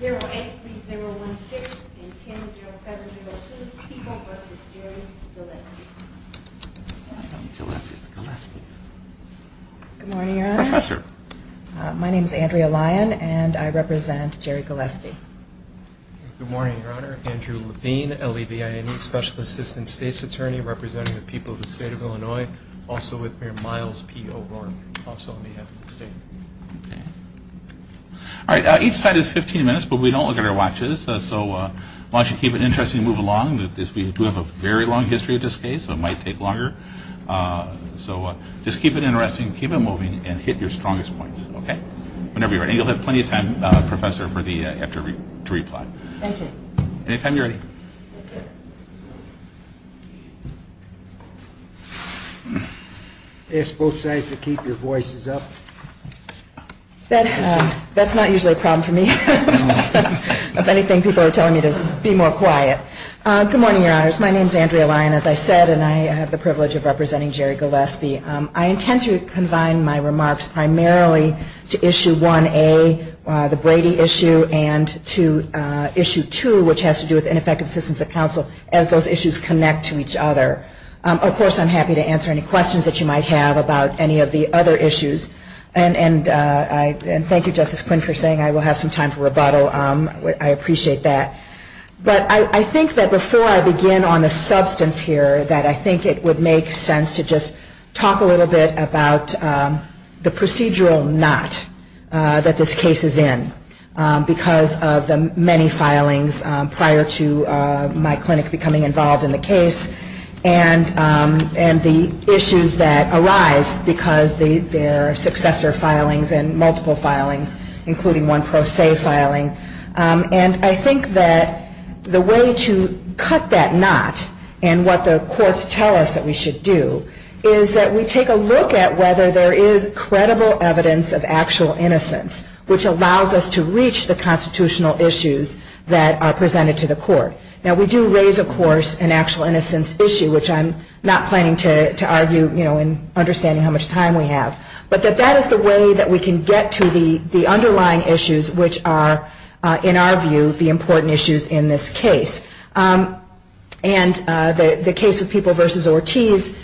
Good morning your honor. My name is Andrea Lyon and I represent Jerry Gillespie. Good morning your honor. Andrew Levine, L.E.B.I.N.E. Special Assistant State's Attorney representing the people of the state of Illinois, also with Mayor Miles P. O'Rourke, also on behalf of the state. Each side is 15 minutes but we don't look at our watches so why don't you keep it interesting and move along. We do have a very long history of this case so it might take longer. So just keep it interesting, keep it moving and hit your strongest points. Whenever you're ready. And you'll have plenty of time professor to reply. I ask both sides to keep your voices up. That's not usually a problem for me. If anything people are telling me to be more quiet. Good morning your honors. My name is Andrea Lyon. As I said and I have the privilege of representing Jerry Gillespie. I intend to combine my remarks primarily to issue 1A, the Brady issue, and to issue 2 which has to do with ineffective assistance of counsel as those issues connect to each other. Of course I'm happy to answer any questions that you might have about any of the other issues. And thank you Justice Quinn for saying I will have some time for rebuttal. I appreciate that. But I think that before I begin on the substance here that I think it would make sense to just talk a little bit about the procedural knot that this case is in. Because of the many filings prior to my clinic becoming involved in the case and the issues that arise because their successor filings and multiple filings including one pro se filing. And I think that the way to cut that knot and what the courts tell us that we should do is that we take a look at whether there is credible evidence of actual innocence which allows us to reach the constitutional issues that are presented to the court. Now we do raise of course an actual innocence issue which I'm not planning to argue in understanding how much time we have. But that is the way that we can get to the underlying issues which are in our view the important issues in this case. And the case of People v. Ortiz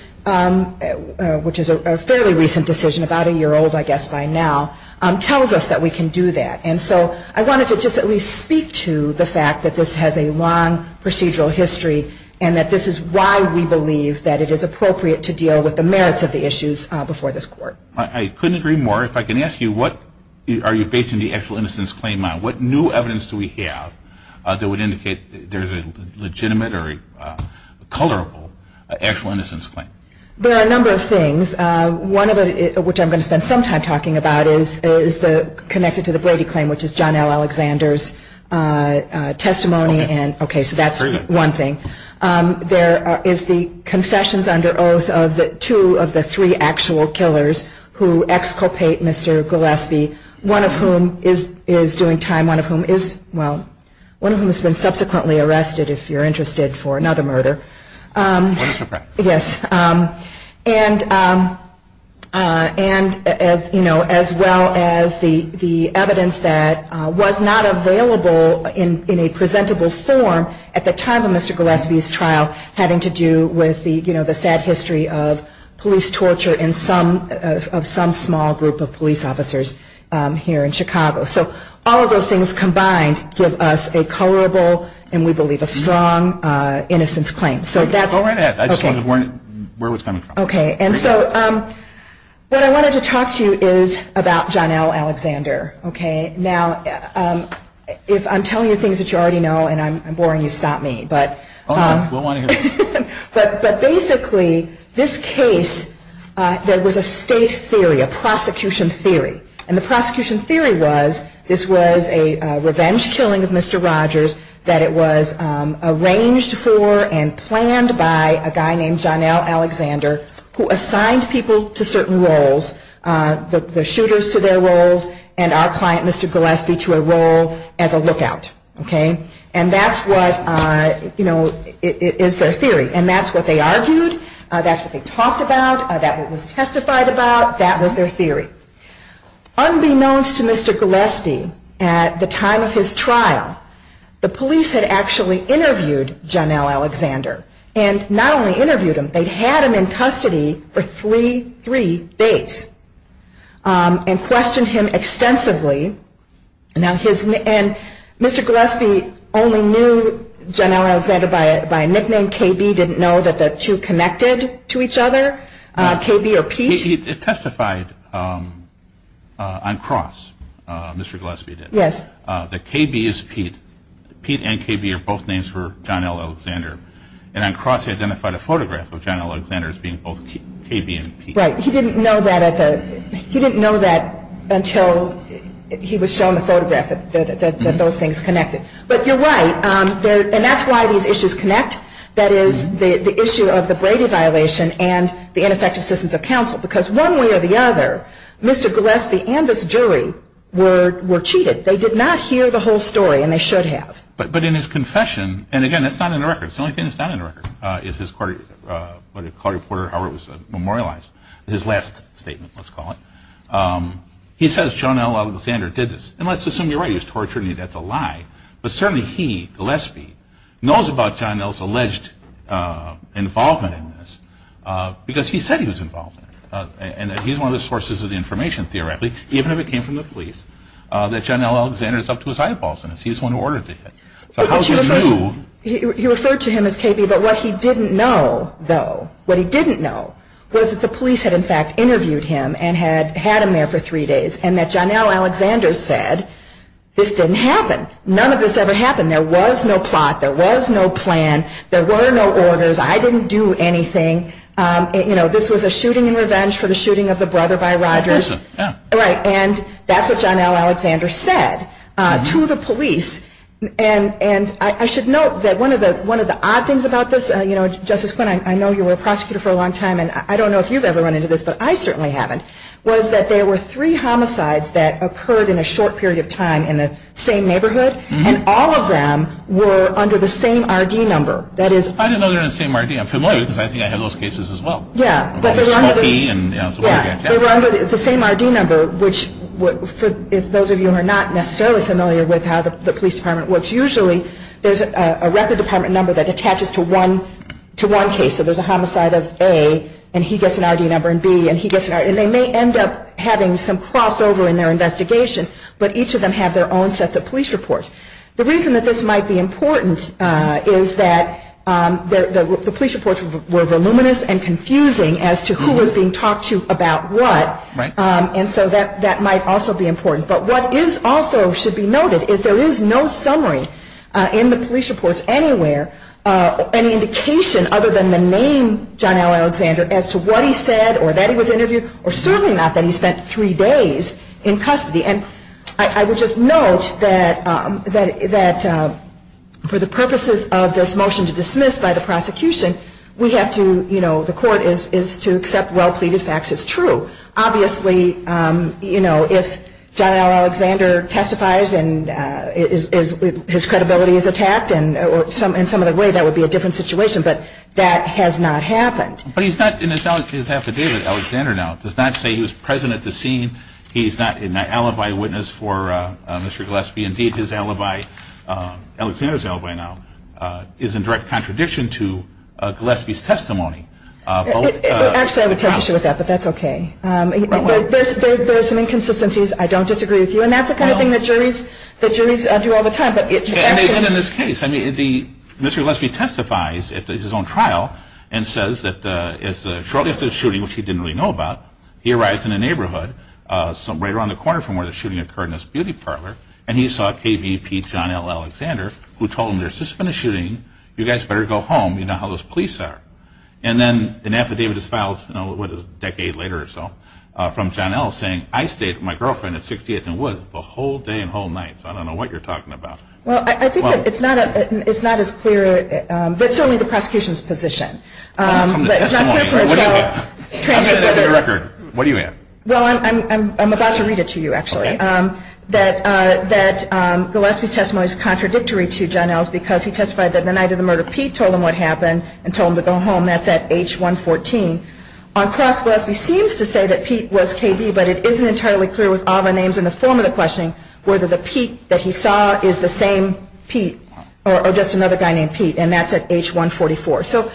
which is a fairly recent decision, about a year old I guess by now, tells us that we can do that. And so I wanted to just at least speak to the fact that this has a long procedural history and that this is why we believe that it is appropriate to deal with the merits of the issues before this court. I couldn't agree more. If I can ask you what are you basing the actual innocence claim on? What new evidence do we have that would indicate there is a legitimate or a colorable actual innocence claim? There are a number of things. One of which I'm going to spend some time talking about is connected to the Brady claim which is John L. Alexander's testimony. So that's one thing. There is the confessions under oath of two of the three actual killers who exculpate Mr. Gillespie, one of whom is doing time, one of whom is, well, one of whom has been subsequently arrested if you're interested for another murder. And as well as the evidence that was not available in a presentable form at the time of Mr. Gillespie's trial having to do with the sad history of police torture of some small group of police officers here in Chicago. So all of those things combined give us a colorable and we believe a strong innocence claim. Go right ahead. I just wanted to learn where it was coming from. Okay. And so what I wanted to talk to you is about John L. Alexander. Okay. Now, if I'm telling you things that you already know and I'm boring you, stop me. But basically this case, there was a state theory, a prosecution theory. And the prosecution theory was this was a revenge killing of Mr. Rogers that it was arranged for and planned by a guy named John L. Alexander who assigned people to certain roles, the shooters to their roles and our client Mr. Gillespie to a role as a lookout. Okay. And that's what, you know, is their theory. And that's what they argued. That's what they talked about. That's what was testified about. That was their theory. Unbeknownst to Mr. Gillespie, at the time of his trial, the police had actually interviewed John L. Alexander. And not only interviewed him, they had him in custody for three days. And questioned him extensively. And Mr. Gillespie only knew John L. Alexander by a nickname. KB didn't know that the two connected to each other? KB or Pete? It testified on cross. Mr. Gillespie did. Yes. That KB is Pete. Pete and KB are both names for John L. Alexander. And on cross he identified a photograph of John L. Alexander as being both KB and Pete. Right. He didn't know that until he was shown the photograph that those things connected. But you're right. And that's why these issues connect. That is the issue of the Brady violation and the ineffective assistance of counsel. Because one way or the other, Mr. Gillespie and this jury were cheated. They did not hear the whole story. And they should have. But in his confession, and again, that's not in the records. The only thing that's not in the records is his court report or how it was memorialized. His last statement, let's call it. He says John L. Alexander did this. And let's assume you're right. He was torturing him. That's a lie. But certainly he, Gillespie, knows about John L's alleged involvement in this. Because he said he was involved in it. And that he's one of the sources of the information, theoretically, even if it came from the police, that John L. Alexander is up to his eyeballs in this. He's the one who ordered it. He referred to him as KB. But what he didn't know, though, what he didn't know was that the police had, in fact, interviewed him and had him there for three days and that John L. Alexander said this didn't happen. None of this ever happened. There was no plot. There was no plan. There were no orders. I didn't do anything. You know, this was a shooting in revenge for the shooting of the brother by Rogers. And that's what John L. Alexander said to the police. And I should note that one of the odd things about this, you know, Justice Quinn, I know you were a prosecutor for a long time. And I don't know if you've ever run into this, but I certainly haven't, was that there were three homicides that occurred in a short period of time in the same neighborhood. And all of them were under the same R.D. number. I didn't know they were under the same R.D. I'm familiar because I think I had those cases as well. Yeah, but they were under the same R.D. number, which for those of you who are not necessarily familiar with how the police department works, usually there's a record department number that attaches to one case. So there's a homicide of A, and he gets an R.D. number, and B, and he gets an R.D. number. And they may end up having some crossover in their investigation, but each of them have their own sets of police reports. The reason that this might be important is that the police reports were voluminous and confusing as to who was being talked to about what. And so that might also be important. But what is also should be noted is there is no summary in the police reports anywhere, any indication other than the name John L. Alexander, as to what he said or that he was interviewed or certainly not that he spent three days in custody. And I would just note that for the purposes of this motion to dismiss by the prosecution, we have to, you know, the court is to accept well-pleaded facts as true. Obviously, you know, if John L. Alexander testifies and his credibility is attacked in some other way, that would be a different situation, but that has not happened. But he's not in his affidavit Alexander now. It does not say he was present at the scene. He's not an alibi witness for Mr. Gillespie. Indeed, his alibi, Alexander's alibi now, is in direct contradiction to Gillespie's testimony. Actually, I would take issue with that, but that's okay. There are some inconsistencies. I don't disagree with you. And that's the kind of thing that juries do all the time. In this case, I mean, Mr. Gillespie testifies at his own trial and says that shortly after the shooting, which he didn't really know about, he arrives in a neighborhood right around the corner from where the shooting occurred in this beauty parlor, and he saw KBP John L. Alexander, who told him, there's just been a shooting. You guys better go home. You know how those police are. And then an affidavit is filed a decade later or so from John L. saying, I stayed with my girlfriend at 68th and Wood the whole day and whole night. So I don't know what you're talking about. Well, I think it's not as clear, but certainly the prosecution's position. I'm going to read it to you, actually, that Gillespie's testimony is contradictory to John L.'s because he testified that the night of the murder, Pete told him what happened and told him to go home. That's at H114. On cross, Gillespie seems to say that Pete was KB, but it isn't entirely clear with all the names in the form of the questioning whether the Pete that he saw is the same Pete or just another guy named Pete, and that's at H144. So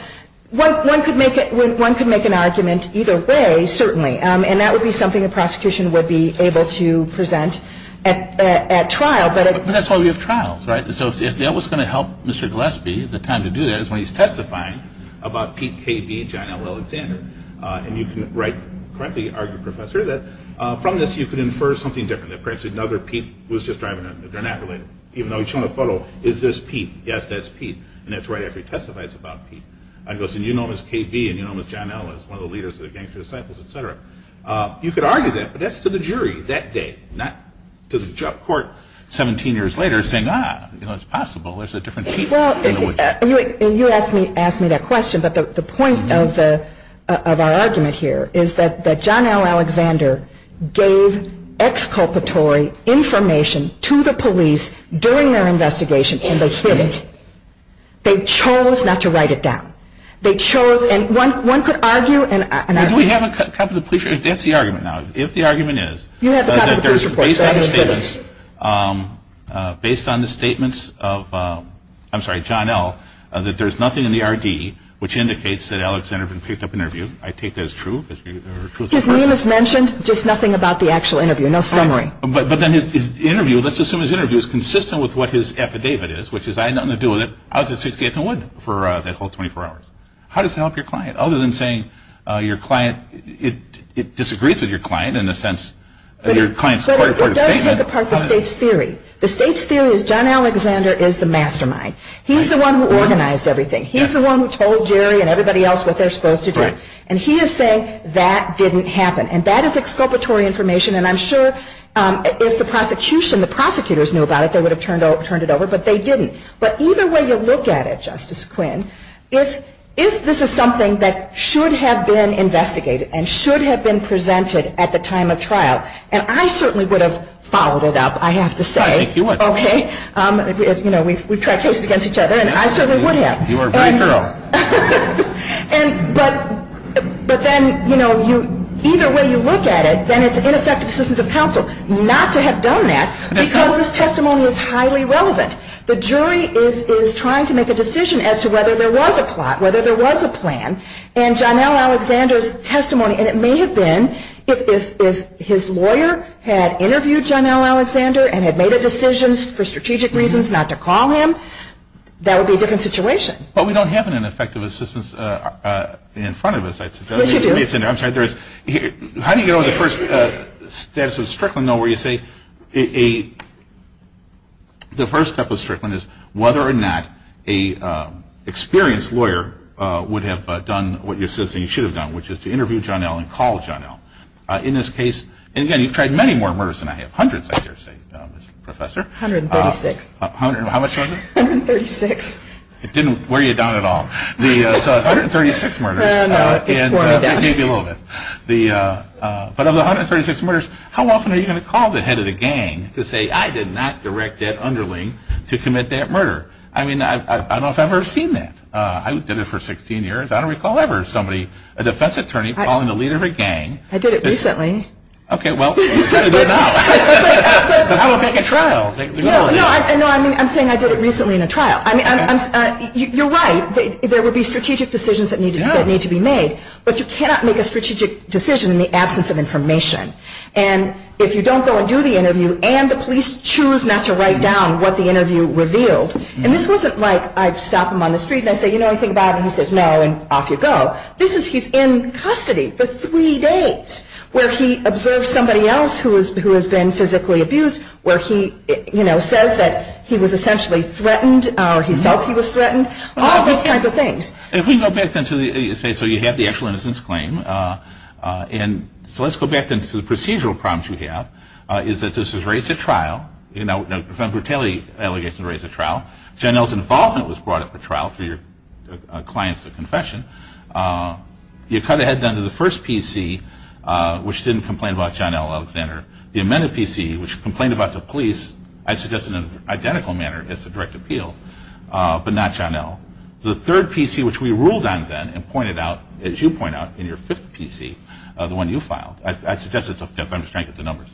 one could make an argument either way, certainly, and that would be something the prosecution would be able to present at trial. But that's why we have trials, right? So if that was going to help Mr. Gillespie, the time to do that is when he's testifying about Pete KB, John L. Alexander. And you can rightly argue, Professor, that from this you could infer something different. That perhaps another Pete was just driving, they're not related. Even though he's shown a photo, is this Pete? Yes, that's Pete. And that's right after he testifies about Pete. And he goes, and you know him as KB and you know him as John L. as one of the leaders of the Gangster Disciples, et cetera. You could argue that, but that's to the jury that day, not to the court 17 years later saying, ah, you know, it's possible there's a different Pete. Well, you asked me that question, but the point of our argument here is that John L. Alexander gave exculpatory information to the police during their investigation and they hid it. They chose not to write it down. They chose, and one could argue, and I... Do we have a copy of the police report? That's the argument now. If the argument is... You have a copy of the police report. Based on the statements of, I'm sorry, John L., that there's nothing in the RD which indicates that Alexander picked up an interview. I take that as true. His name is mentioned, just nothing about the actual interview. No summary. But then his interview, let's assume his interview is consistent with what his affidavit is, which is I had nothing to do with it. I was at 68th and Wood for that whole 24 hours. How does that help your client? Other than saying your client, it disagrees with your client in a sense. But it does take apart the state's theory. The state's theory is John Alexander is the mastermind. He's the one who organized everything. He's the one who told Jerry and everybody else what they're supposed to do. And he is saying that didn't happen. And that is exculpatory information, and I'm sure if the prosecution, the prosecutors knew about it, they would have turned it over, but they didn't. But either way you look at it, Justice Quinn, if this is something that should have been investigated and should have been presented at the time of trial, and I certainly would have followed it up, I have to say. I think you would. Okay. You know, we've tried cases against each other, and I certainly would have. You are very thorough. But then, you know, either way you look at it, then it's ineffective assistance of counsel not to have done that because this testimony is highly relevant. The jury is trying to make a decision as to whether there was a plot, whether there was a plan. And John L. Alexander's testimony, and it may have been if his lawyer had interviewed John L. Alexander and had made a decision for strategic reasons not to call him, that would be a different situation. But we don't have an ineffective assistance in front of us. Yes, you do. I'm sorry, there is. How do you know the first status of Strickland, though, where you say the first step of Strickland is whether or not an experienced lawyer would have done what you're saying he should have done, which is to interview John L. and call John L. In this case, and again, you've tried many more murders than I have, hundreds, I dare say, Professor. 136. How much was it? 136. It didn't wear you down at all. So 136 murders, maybe a little bit. But of the 136 murders, how often are you going to call the head of the gang to say, I did not direct that underling to commit that murder? I mean, I don't know if I've ever seen that. I did it for 16 years. I don't recall ever somebody, a defense attorney, calling the leader of a gang. I did it recently. Okay, well, you try to do it now. But I will make a trial. No, I'm saying I did it recently in a trial. You're right. There would be strategic decisions that need to be made. But you cannot make a strategic decision in the absence of information. And if you don't go and do the interview and the police choose not to write down what the interview revealed, and this wasn't like I'd stop him on the street and I'd say, you know anything about it? And he says, no, and off you go. This is he's in custody for three days where he observes somebody else who has been physically abused, where he, you know, says that he was essentially threatened or he felt he was threatened. All those kinds of things. If we go back then to the, say, so you have the actual innocence claim. And so let's go back then to the procedural problems you have, is that this was raised at trial. You know, a brutality allegation was raised at trial. Janelle's involvement was brought up at trial through your client's confession. You cut ahead then to the first PC, which didn't complain about Janelle Alexander. The amended PC, which complained about the police, I'd suggest in an identical manner as the direct appeal, but not Janelle. The third PC, which we ruled on then and pointed out, as you point out, in your fifth PC, the one you filed. I'd suggest it's a fifth. I'm just trying to get the numbers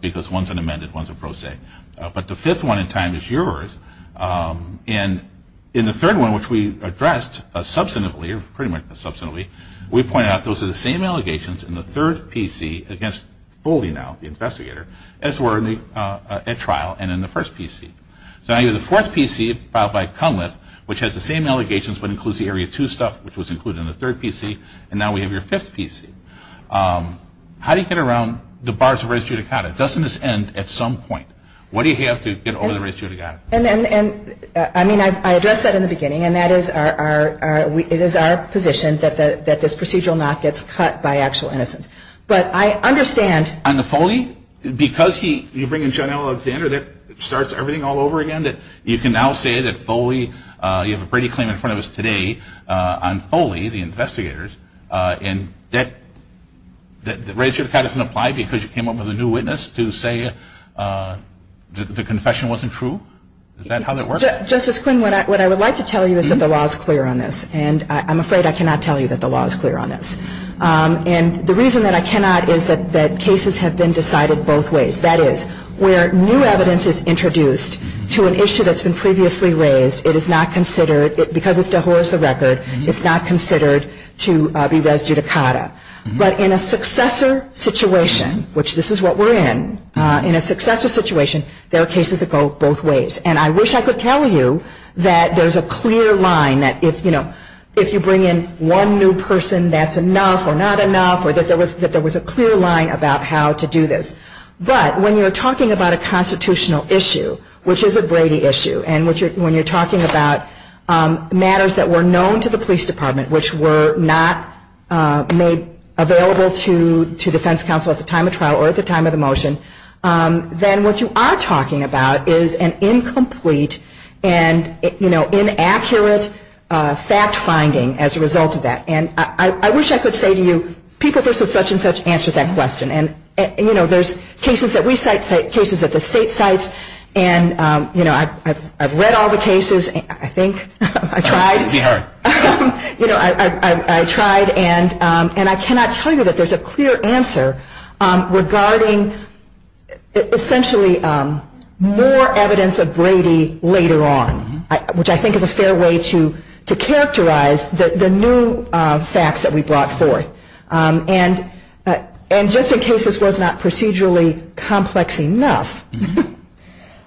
because one's an amended, one's a pro se. But the fifth one in time is yours. And in the third one, which we addressed substantively, or pretty much substantively, we pointed out those are the same allegations in the third PC against Foley now, the investigator, as were at trial and in the first PC. So now you have the fourth PC filed by Cunliffe, which has the same allegations but includes the Area 2 stuff, which was included in the third PC. And now we have your fifth PC. How do you get around the bars of res judicata? Doesn't this end at some point? What do you have to get over the res judicata? I mean, I addressed that in the beginning, and it is our position that this procedural not gets cut by actual innocence. But I understand. On the Foley, because you bring in Janelle Alexander that starts everything all over again, you can now say that Foley, you have a Brady claim in front of us today on Foley, the investigators, and the res judicata doesn't apply because you came up with a new witness to say the confession wasn't true? Is that how that works? Justice Quinn, what I would like to tell you is that the law is clear on this. And I'm afraid I cannot tell you that the law is clear on this. And the reason that I cannot is that cases have been decided both ways. That is, where new evidence is introduced to an issue that's been previously raised, it is not considered, because it's de horsa record, it's not considered to be res judicata. But in a successor situation, which this is what we're in, in a successor situation, there are cases that go both ways. And I wish I could tell you that there's a clear line that if, you know, if you bring in one new person, that's enough or not enough, or that there was a clear line about how to do this. But when you're talking about a constitutional issue, which is a Brady issue, and when you're talking about matters that were known to the police department and which were not made available to defense counsel at the time of trial or at the time of the motion, then what you are talking about is an incomplete and, you know, inaccurate fact finding as a result of that. And I wish I could say to you, people versus such and such answers that question. And, you know, there's cases that we cite, cases that the state cites. And, you know, I've read all the cases, I think. I tried. You know, I tried. And I cannot tell you that there's a clear answer regarding essentially more evidence of Brady later on, which I think is a fair way to characterize the new facts that we brought forth. And just in case this was not procedurally complex enough,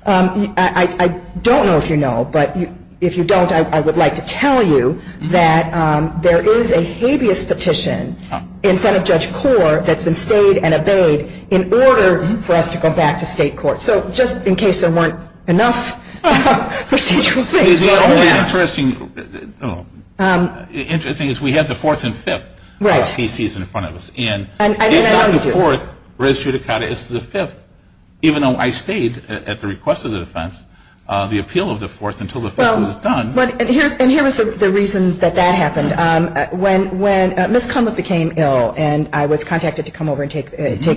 I don't know if you know, but if you don't, I would like to tell you that there is a habeas petition in front of Judge Korr that's been stayed and obeyed in order for us to go back to state court. So just in case there weren't enough procedural things. The only interesting thing is we had the fourth and fifth cases in front of us. And it's not the fourth res judicata, it's the fifth. Even though I stayed at the request of the defense, the appeal of the fourth until the fifth was done. And here's the reason that that happened. When Ms. Kumla became ill and I was contacted to come over and take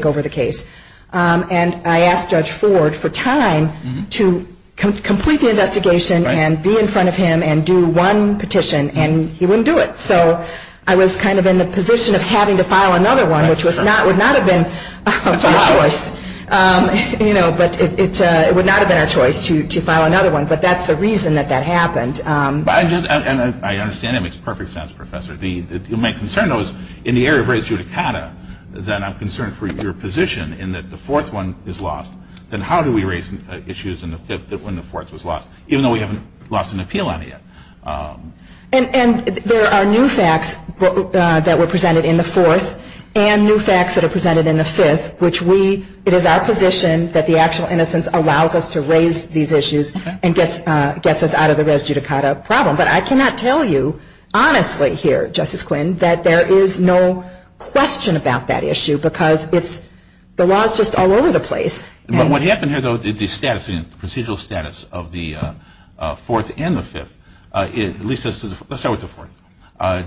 over the case, and I asked Judge Ford for time to complete the investigation and be in front of him and do one petition and he wouldn't do it. So I was kind of in the position of having to file another one, which would not have been our choice. But it would not have been our choice to file another one. But that's the reason that that happened. I understand that makes perfect sense, Professor. My concern, though, is in the area of res judicata, that I'm concerned for your position in that the fourth one is lost. Then how do we raise issues in the fifth when the fourth was lost, even though we haven't lost an appeal on it yet? And there are new facts that were presented in the fourth and new facts that are presented in the fifth, which we, it is our position that the actual innocence allows us to raise these issues and gets us out of the res judicata problem. But I cannot tell you honestly here, Justice Quinn, that there is no question about that issue because the law is just all over the place. But what happened here, though, the status, the procedural status of the fourth and the fifth, at least let's start with the fourth.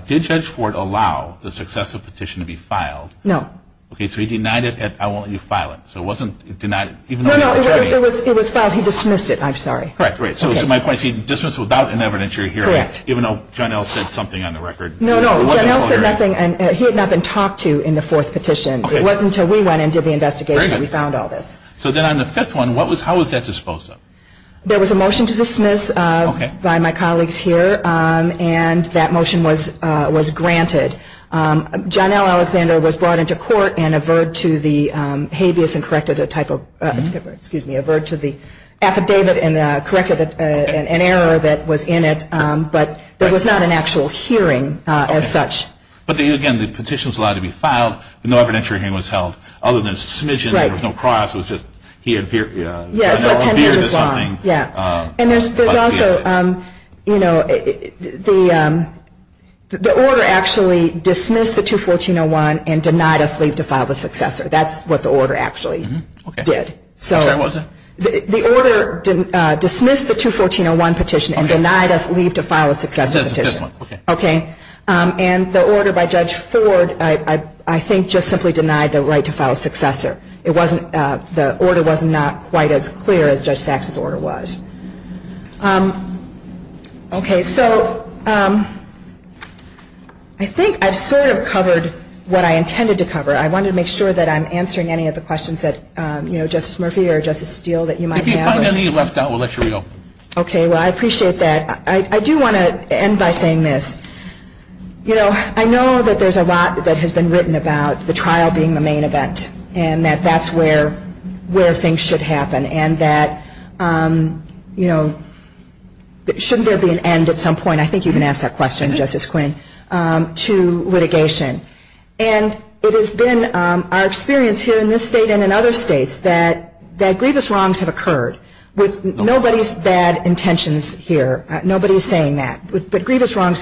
Did Judge Ford allow the successive petition to be filed? No. Okay, so he denied it. I won't let you file it. So it wasn't denied. No, no. It was filed. He dismissed it. I'm sorry. Correct. Right. So to my point, he dismissed it without any evidence you're hearing, even though John Ellis said something on the record. No, no. John Ellis said nothing. He had not been talked to in the fourth petition. It wasn't until we went and did the investigation that we found all this. So then on the fifth one, how was that disposed of? There was a motion to dismiss by my colleagues here, and that motion was granted. John L. Alexander was brought into court and averred to the habeas and corrected a type of, excuse me, averred to the affidavit and corrected an error that was in it. But there was not an actual hearing as such. But, again, the petition was allowed to be filed. No evidentiary hearing was held other than a submission. There was no cross. It was just he averred to something. And there's also, you know, the order actually dismissed the 214-01 and denied us leave to file the successor. That's what the order actually did. So the order dismissed the 214-01 petition and denied us leave to file a successor petition. Okay. And the order by Judge Ford, I think, just simply denied the right to file a successor. The order was not quite as clear as Judge Sachs' order was. Okay. So I think I've sort of covered what I intended to cover. I wanted to make sure that I'm answering any of the questions that, you know, Justice Murphy or Justice Steele that you might have. If you find any left out, we'll let you go. Okay. Well, I appreciate that. I do want to end by saying this. You know, I know that there's a lot that has been written about the trial being the main event and that that's where things should happen and that, you know, shouldn't there be an end at some point? I think you've been asked that question, Justice Quinn, to litigation. And it has been our experience here in this state and in other states that grievous wrongs have occurred with nobody's bad intentions here. Nobody is saying that. But grievous wrongs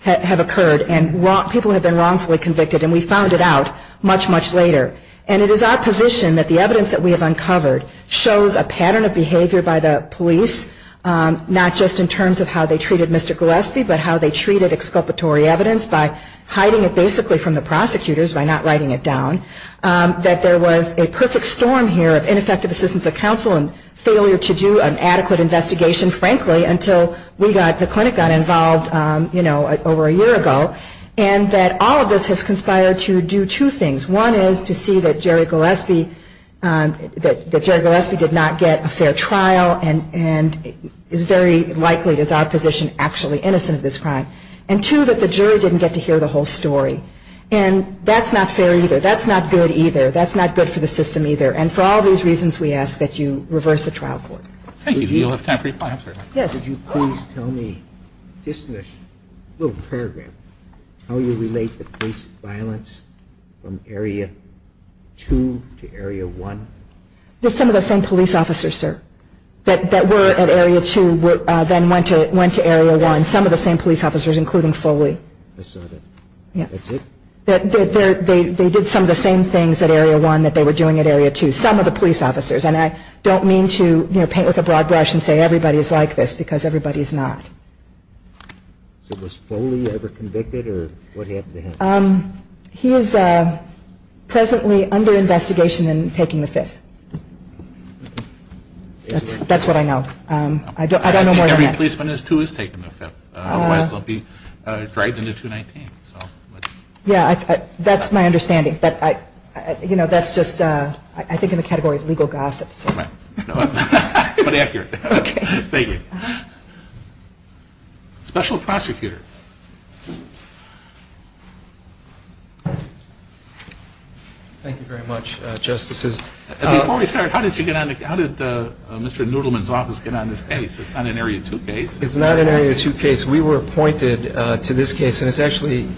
have occurred and people have been wrongfully convicted, and we found it out much, much later. And it is our position that the evidence that we have uncovered shows a pattern of behavior by the police, not just in terms of how they treated Mr. Gillespie, but how they treated exculpatory evidence by hiding it basically from the prosecutors, by not writing it down, that there was a perfect storm here of ineffective assistance of counsel and failure to do an adequate investigation, frankly, until the clinic got involved, you know, over a year ago, and that all of this has conspired to do two things. One is to see that Jerry Gillespie did not get a fair trial and is very likely, it is our position, actually innocent of this crime. And two, that the jury didn't get to hear the whole story. And that's not fair either. That's not good either. That's not good for the system either. And for all these reasons, we ask that you reverse the trial court. Thank you. Do you have time for your final question? Yes. Could you please tell me, just in a little paragraph, how you relate the police violence from Area 2 to Area 1? Some of the same police officers, sir, that were at Area 2 then went to Area 1. Some of the same police officers, including Foley. I saw that. Yeah. That's it? They did some of the same things at Area 1 that they were doing at Area 2. Some of the police officers. And I don't mean to, you know, paint with a broad brush and say everybody is like this because everybody is not. So was Foley ever convicted or what happened to him? He is presently under investigation and taking the Fifth. That's what I know. I don't know more than that. I think every policeman who is 2 is taking the Fifth. Otherwise, they'll be dragged into 219. Yeah, that's my understanding. But, you know, that's just, I think, in the category of legal gossip. All right. But accurate. Okay. Thank you. Special Prosecutor. Thank you very much, Justices. Before we start, how did Mr. Noodleman's office get on this case? It's not an Area 2 case. It's not an Area 2 case. We were appointed to this case, and it's actually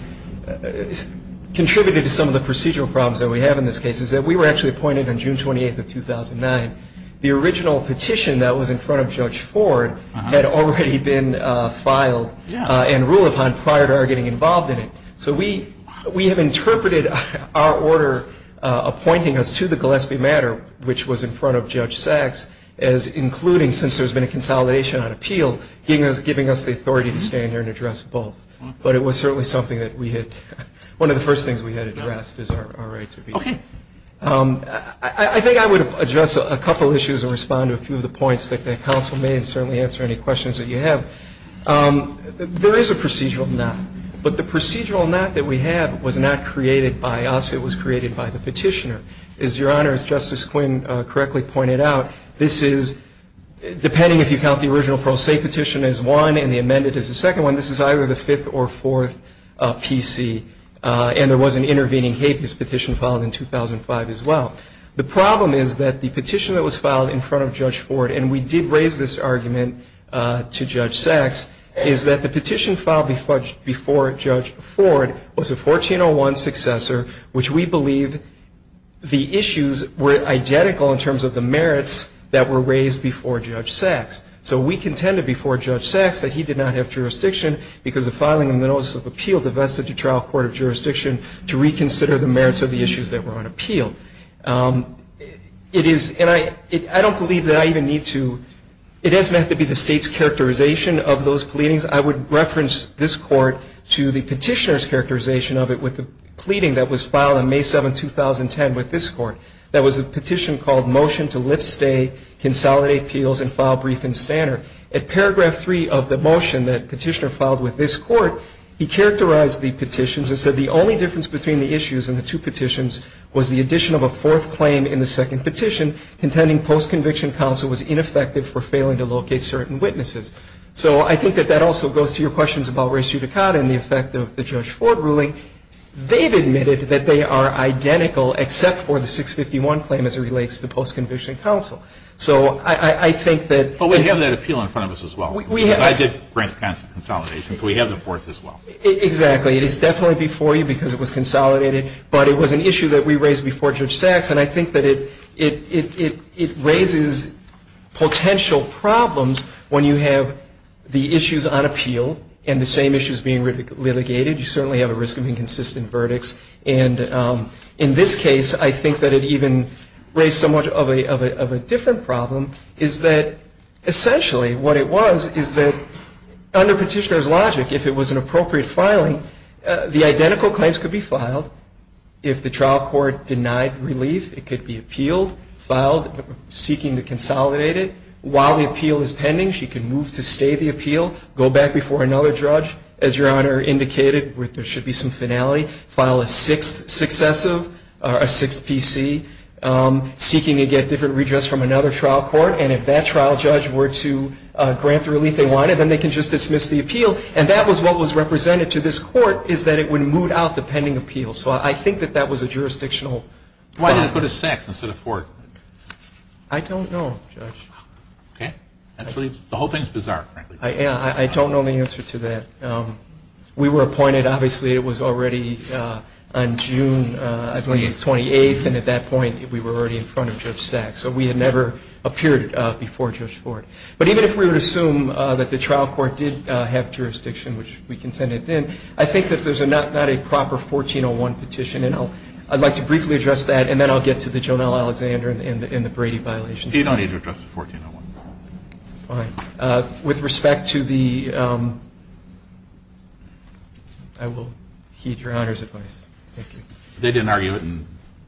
contributed to some of the procedural problems that we have in this case, is that we were actually appointed on June 28th of 2009. The original petition that was in front of Judge Ford had already been filed and ruled upon prior to our getting involved in it. So we have interpreted our order appointing us to the Gillespie matter, which was in front of Judge Sachs, as including, since there's been a consolidation on appeal, giving us the authority to stand here and address both. But it was certainly something that we had, one of the first things we had addressed is our right to be here. Okay. I think I would address a couple of issues and respond to a few of the points that the counsel made and certainly answer any questions that you have. There is a procedural knot, but the procedural knot that we have was not created by us. It was created by the petitioner. As Your Honor, as Justice Quinn correctly pointed out, this is, depending if you count the original pro se petition as one and the amended as the second one, this is either the fifth or fourth PC, and there was an intervening habeas petition filed in 2005 as well. The problem is that the petition that was filed in front of Judge Ford, and we did raise this argument to Judge Sachs, is that the petition filed before Judge Ford was a 1401 successor, which we believe the issues were identical in terms of the merits that were raised before Judge Sachs. So we contended before Judge Sachs that he did not have jurisdiction because the filing and the notice of appeal divested the trial court of jurisdiction to reconsider the merits of the issues that were on appeal. It is, and I don't believe that I even need to, it doesn't have to be the state's characterization of those pleadings. I would reference this court to the petitioner's characterization of it with the pleading that was filed on May 7, 2010 with this court. That was a petition called Motion to Lift Stay, Consolidate Appeals, and File Brief and Standard. At paragraph three of the motion that petitioner filed with this court, he characterized the petitions and said the only difference between the issues and the two petitions was the addition of a fourth claim in the second petition contending post-conviction counsel was ineffective for failing to locate certain witnesses. So I think that that also goes to your questions about res judicata and the effect of the Judge Ford ruling. They've admitted that they are identical except for the 651 claim as it relates to post-conviction counsel. So I think that we have that appeal in front of us as well. I did grant consolidation, so we have the fourth as well. Exactly. It is definitely before you because it was consolidated, but it was an issue that we raised before Judge Sachs, and I think that it raises potential problems when you have the issues on appeal and the same issues being litigated. You certainly have a risk of inconsistent verdicts. And in this case, I think that it even raised somewhat of a different problem is that essentially what it was is that under petitioner's logic, if it was an appropriate filing, the identical claims could be filed. If the trial court denied relief, it could be appealed, filed seeking to consolidate it. While the appeal is pending, she could move to stay the appeal, go back before another judge, as Your Honor indicated, where there should be some finality, file a sixth successive, a sixth PC, seeking to get different redress from another trial court. And if that trial judge were to grant the relief they wanted, then they could just dismiss the appeal. And that was what was represented to this court is that it would moot out the pending appeal. So I think that that was a jurisdictional problem. Why did it go to Sachs instead of Ford? I don't know, Judge. Okay. The whole thing is bizarre, frankly. I don't know the answer to that. We were appointed, obviously, it was already on June 28th, and at that point we were already in front of Judge Sachs. So we had never appeared before Judge Ford. But even if we were to assume that the trial court did have jurisdiction, which we contended it did, I think that there's not a proper 1401 petition. And I'd like to briefly address that, and then I'll get to the Jonelle Alexander and the Brady violations. You don't need to address the 1401. All right. With respect to the – I will heed Your Honor's advice. Thank you. They didn't argue it,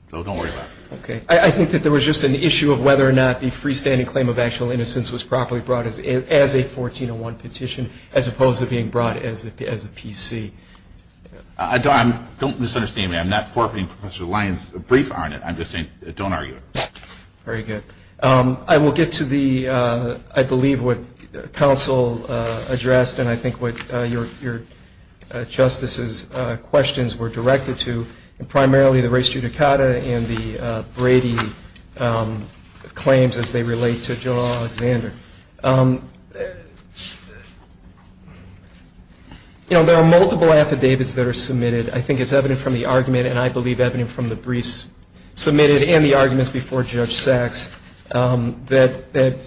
so don't worry about it. Okay. I think that there was just an issue of whether or not the freestanding claim of actual innocence was properly brought as a 1401 petition, as opposed to being brought as a PC. Don't misunderstand me. I'm not forfeiting Professor Lyons' brief on it. I'm just saying don't argue it. Very good. I will get to the, I believe, what counsel addressed and I think what Your Justice's questions were directed to, and primarily the res judicata and the Brady claims as they relate to Jonelle Alexander. You know, there are multiple affidavits that are submitted. I think it's evident from the argument, and I believe evident from the briefs submitted and the arguments before Judge Sacks, that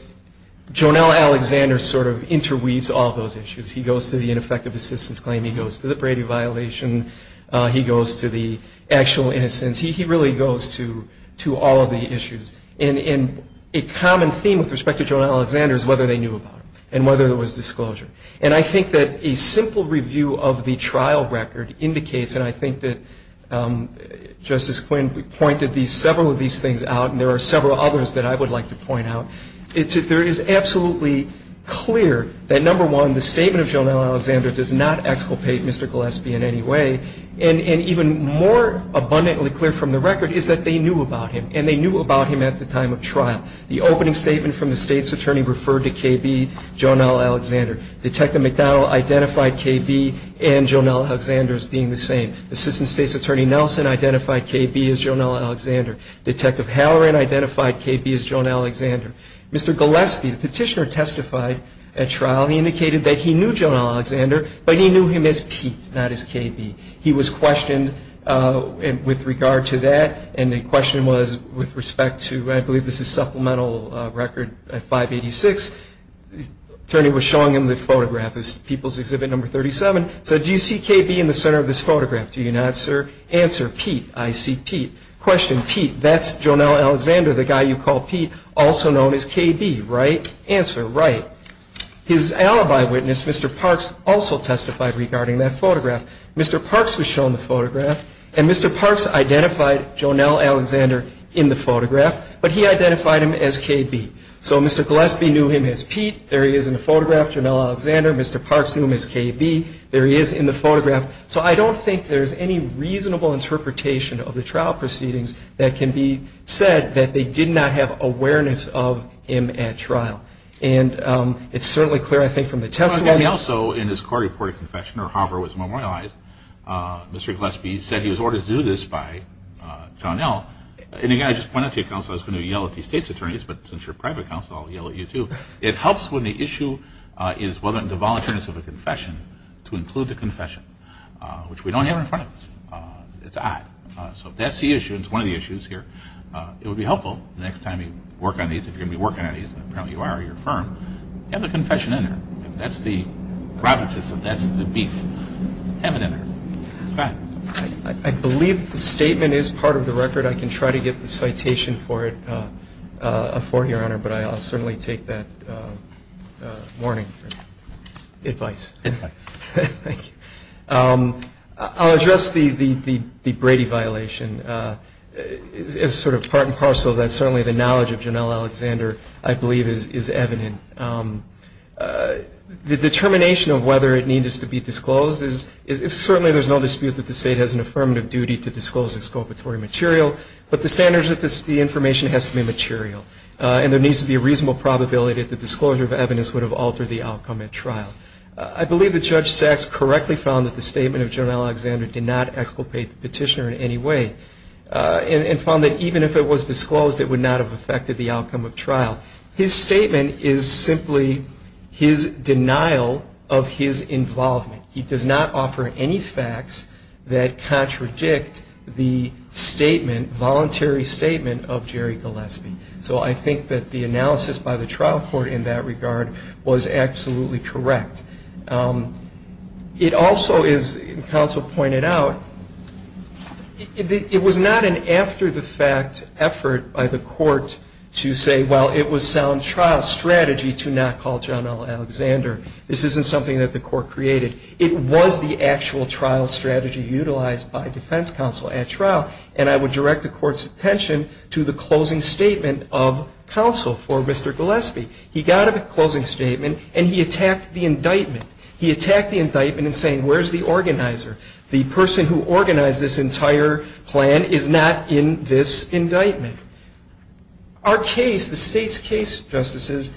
Jonelle Alexander sort of interweaves all those issues. He goes to the ineffective assistance claim. He goes to the Brady violation. He goes to the actual innocence. He really goes to all of the issues. And a common theme with respect to Jonelle Alexander is whether they knew about it and whether there was disclosure. And I think that a simple review of the trial record indicates, and I think that Justice Quinn pointed several of these things out, and there are several others that I would like to point out. There is absolutely clear that, number one, the statement of Jonelle Alexander does not exculpate Mr. Gillespie in any way. And even more abundantly clear from the record is that they knew about him, and they knew about him at the time of trial. The opening statement from the state's attorney referred to KB, Jonelle Alexander. Detective McDowell identified KB and Jonelle Alexander as being the same. The assistant state's attorney, Nelson, identified KB as Jonelle Alexander. Detective Halloran identified KB as Jonelle Alexander. Mr. Gillespie, the petitioner, testified at trial. He indicated that he knew Jonelle Alexander, but he knew him as Pete, not as KB. He was questioned with regard to that, and the question was with respect to, I believe this is supplemental record 586, the attorney was showing him the photograph of People's Exhibit No. 37. He said, do you see KB in the center of this photograph? Do you not, sir? Answer, Pete. I see Pete. Question, Pete, that's Jonelle Alexander, the guy you call Pete, also known as KB, right? Answer, right. His alibi witness, Mr. Parks, also testified regarding that photograph. Mr. Parks was shown the photograph, and Mr. Parks identified Jonelle Alexander in the photograph, but he identified him as KB. So Mr. Gillespie knew him as Pete. There he is in the photograph, Jonelle Alexander. Mr. Parks knew him as KB. There he is in the photograph. So I don't think there's any reasonable interpretation of the trial proceedings that can be said that they did not have awareness of him at trial. And it's certainly clear, I think, from the testimony. Also, in his court-reported confession, or however it was memorialized, Mr. Gillespie said he was ordered to do this by Jonelle. And again, I just want to point out to you, counsel, I was going to yell at the state's attorneys, but since you're a private counsel, I'll yell at you too. It helps when the issue is whether or not the voluntariness of a confession to include the confession, which we don't have in front of us. It's odd. So if that's the issue, it's one of the issues here, it would be helpful the next time you work on these, if you're going to be working on these, and apparently you are, you're a firm, have the confession in there. If that's the rabbit, that's the beef. Have it in there. Go ahead. I believe the statement is part of the record. I can try to get the citation for it, Your Honor, but I'll certainly take that warning. Advice. Advice. Thank you. I'll address the Brady violation as sort of part and parcel of that. Certainly the knowledge of Jonelle Alexander, I believe, is evident. The determination of whether it needs to be disclosed, certainly there's no dispute that the state has an affirmative duty to disclose its co-operatory material, but the standards of the information has to be material, and there needs to be a reasonable probability that the disclosure of evidence would have altered the outcome at trial. I believe that Judge Sachs correctly found that the statement of Jonelle Alexander did not exculpate the petitioner in any way, and found that even if it was disclosed, it would not have affected the outcome of trial. His statement is simply his denial of his involvement. He does not offer any facts that contradict the statement, voluntary statement, of Jerry Gillespie. So I think that the analysis by the trial court in that regard was absolutely correct. It also is, as counsel pointed out, it was not an after-the-fact effort by the court to say, well, it was sound trial strategy to not call Jonelle Alexander. This isn't something that the court created. It was the actual trial strategy utilized by defense counsel at trial, and I would direct the court's attention to the closing statement of counsel for Mr. Gillespie. He got a closing statement, and he attacked the indictment. He attacked the indictment in saying, where's the organizer? The person who organized this entire plan is not in this indictment. Our case, the state's case, Justices,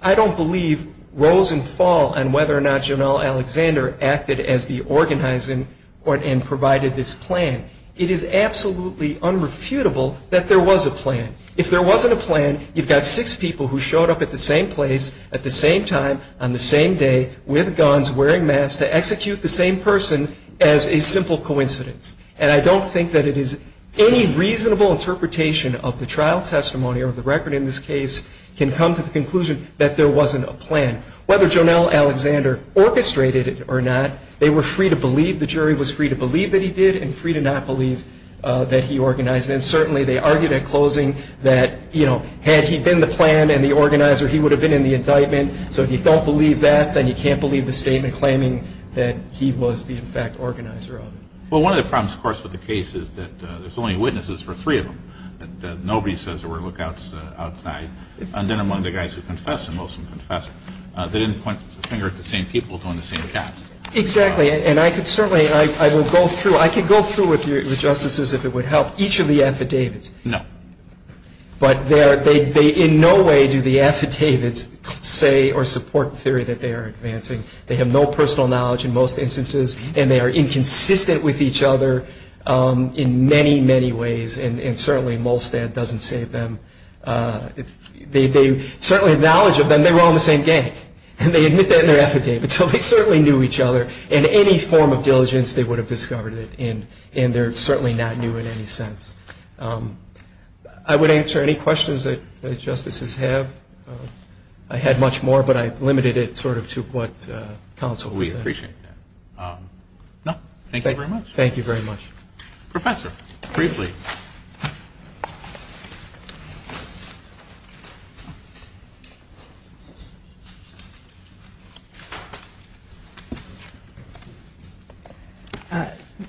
I don't believe rose and fall on whether or not Jonelle Alexander acted as the organizer and provided this plan. It is absolutely unrefutable that there was a plan. If there wasn't a plan, you've got six people who showed up at the same place at the same time, on the same day, with guns, wearing masks, to execute the same person as a simple coincidence. And I don't think that it is any reasonable interpretation of the trial testimony or the record in this case can come to the conclusion that there wasn't a plan. Whether Jonelle Alexander orchestrated it or not, they were free to believe, the jury was free to believe that he did and free to not believe that he organized it. And certainly they argued at closing that, you know, had he been the plan and the organizer, he would have been in the indictment. So if you don't believe that, then you can't believe the statement claiming that he was the, in fact, organizer of it. Well, one of the problems, of course, with the case is that there's only witnesses for three of them. Nobody says there were lookouts outside. And then among the guys who confessed and most of them confessed, they didn't point the finger at the same people doing the same job. Exactly. And I could certainly, I will go through, I could go through with you, with Justices, if it would help, each of the affidavits. No. But they in no way do the affidavits say or support the theory that they are advancing. They have no personal knowledge in most instances. And they are inconsistent with each other in many, many ways. And certainly Molstad doesn't save them. They certainly have knowledge of them. They were all in the same gang. And they admit that in their affidavit. So they certainly knew each other. In any form of diligence, they would have discovered it. And they're certainly not new in any sense. I would answer any questions that Justices have. I had much more, but I limited it sort of to what counsel said. We appreciate that. No. Thank you very much. Thank you very much. Professor, briefly.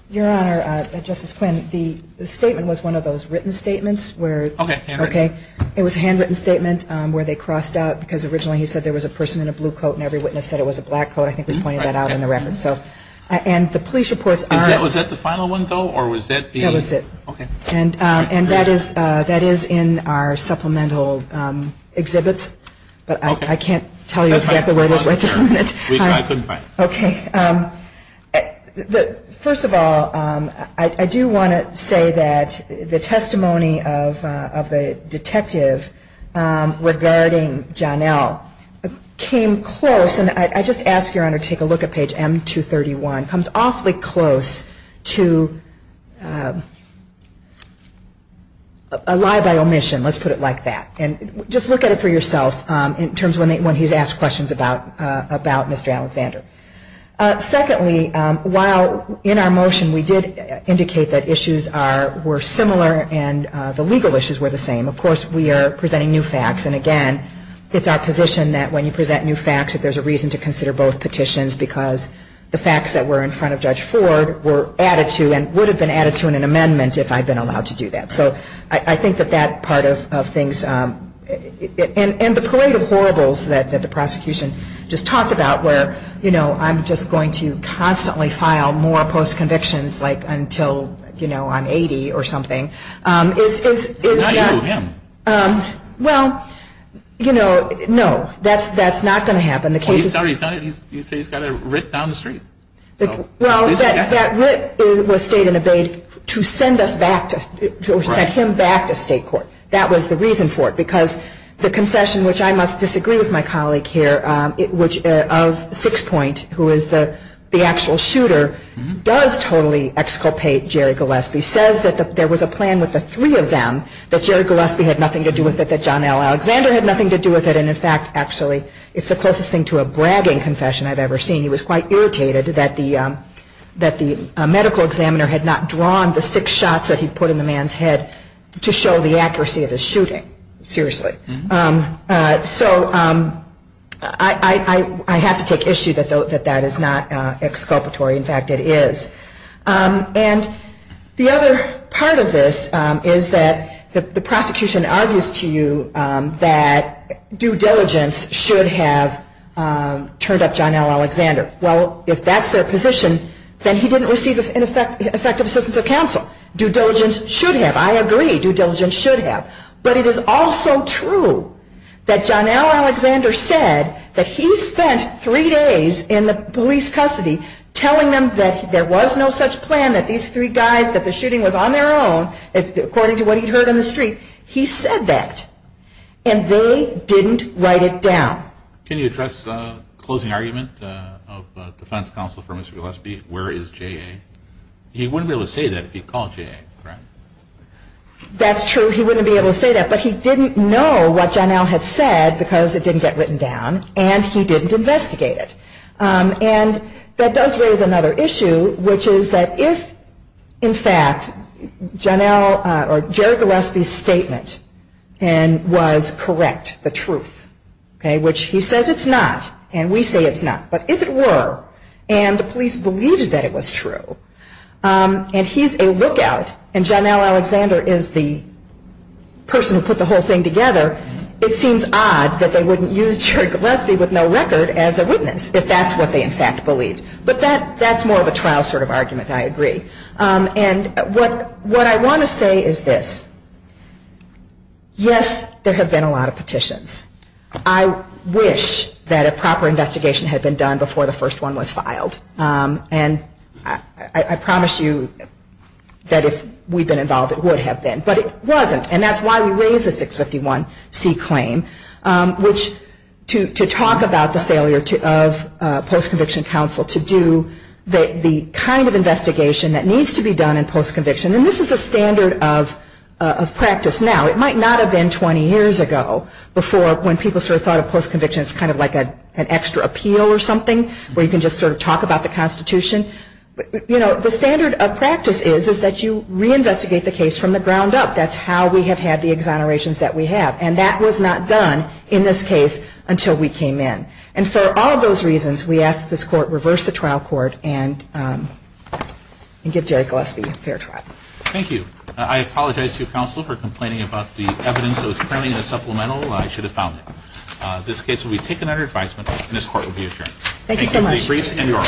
Your Honor, Justice Quinn, the statement was one of those written statements where Okay, handwritten. It was a handwritten statement where they crossed out because originally he said there was a person in a blue coat and every witness said it was a black coat. I think we pointed that out in the record. And the police reports are Was that the final one, though, or was that being That was it. Okay. And that is in our supplemental exhibits. But I can't tell you exactly where it is right this minute. I couldn't find it. Okay. First of all, I do want to say that the testimony of the detective regarding John L. came close. And I just ask, Your Honor, take a look at page M231. It comes awfully close to a lie by omission, let's put it like that. And just look at it for yourself in terms of when he's asked questions about Mr. Alexander. Secondly, while in our motion we did indicate that issues were similar and the legal issues were the same, of course we are presenting new facts. And again, it's our position that when you present new facts that there's a reason to consider both petitions because the facts that were in front of Judge Ford were added to and would have been added to in an amendment if I'd been allowed to do that. So I think that that part of things, and the parade of horribles that the prosecution just talked about where, you know, I'm just going to constantly file more post-convictions like until, you know, I'm 80 or something. Not you, him. Well, you know, no. That's not going to happen. Well, he's already done it. He's got a writ down the street. Well, that writ was stayed and obeyed to send us back to, to send him back to state court. That was the reason for it because the confession, which I must disagree with my colleague here, which of Sixpoint, who is the actual shooter, does totally exculpate Jerry Gillespie, says that there was a plan with the three of them that Jerry Gillespie had nothing to do with it, that John L. Alexander had nothing to do with it. And in fact, actually, it's the closest thing to a bragging confession I've ever seen. He was quite irritated that the medical examiner had not drawn the six shots that he put in the man's head to show the accuracy of the shooting. Seriously. So I have to take issue that that is not exculpatory. In fact, it is. And the other part of this is that the prosecution argues to you that due diligence should have turned up John L. Alexander. Well, if that's their position, then he didn't receive effective assistance of counsel. Due diligence should have. I agree. Due diligence should have. But it is also true that John L. Alexander said that he spent three days in the police custody telling them that there was no such plan, that these three guys, that the shooting was on their own, according to what he'd heard on the street. He said that. And they didn't write it down. Can you address the closing argument of defense counsel for Mr. Gillespie? Where is J.A.? He wouldn't be able to say that if he called J.A. That's true. He wouldn't be able to say that. But he didn't know what John L. had said because it didn't get written down. And he didn't investigate it. And that does raise another issue, which is that if, in fact, John L. or Jerry Gillespie's statement was correct, the truth, which he says it's not, and we say it's not, but if it were, and the police believed that it was true, and he's a lookout, and John L. Alexander is the person who put the whole thing together, it seems odd that they wouldn't use Jerry Gillespie with no record as a witness if that's what they, in fact, believed. But that's more of a trial sort of argument. I agree. And what I want to say is this. Yes, there have been a lot of petitions. I wish that a proper investigation had been done before the first one was filed. And I promise you that if we'd been involved, it would have been. But it wasn't. And that's why we raised the 651C claim, which to talk about the failure of post-conviction counsel to do the kind of investigation that needs to be done in post-conviction. And this is the standard of practice now. It might not have been 20 years ago before when people sort of thought of post-conviction as kind of like an extra appeal or something where you can just sort of talk about the Constitution. You know, the standard of practice is that you reinvestigate the case from the ground up. That's how we have had the exonerations that we have. And that was not done in this case until we came in. And for all those reasons, we ask that this Court reverse the trial court and give Jerry Gillespie a fair trial. Thank you. I apologize to you, Counsel, for complaining about the evidence that was currently in the supplemental. I should have found it. This case will be taken under advisement, and this Court will be adjourned. Thank you so much.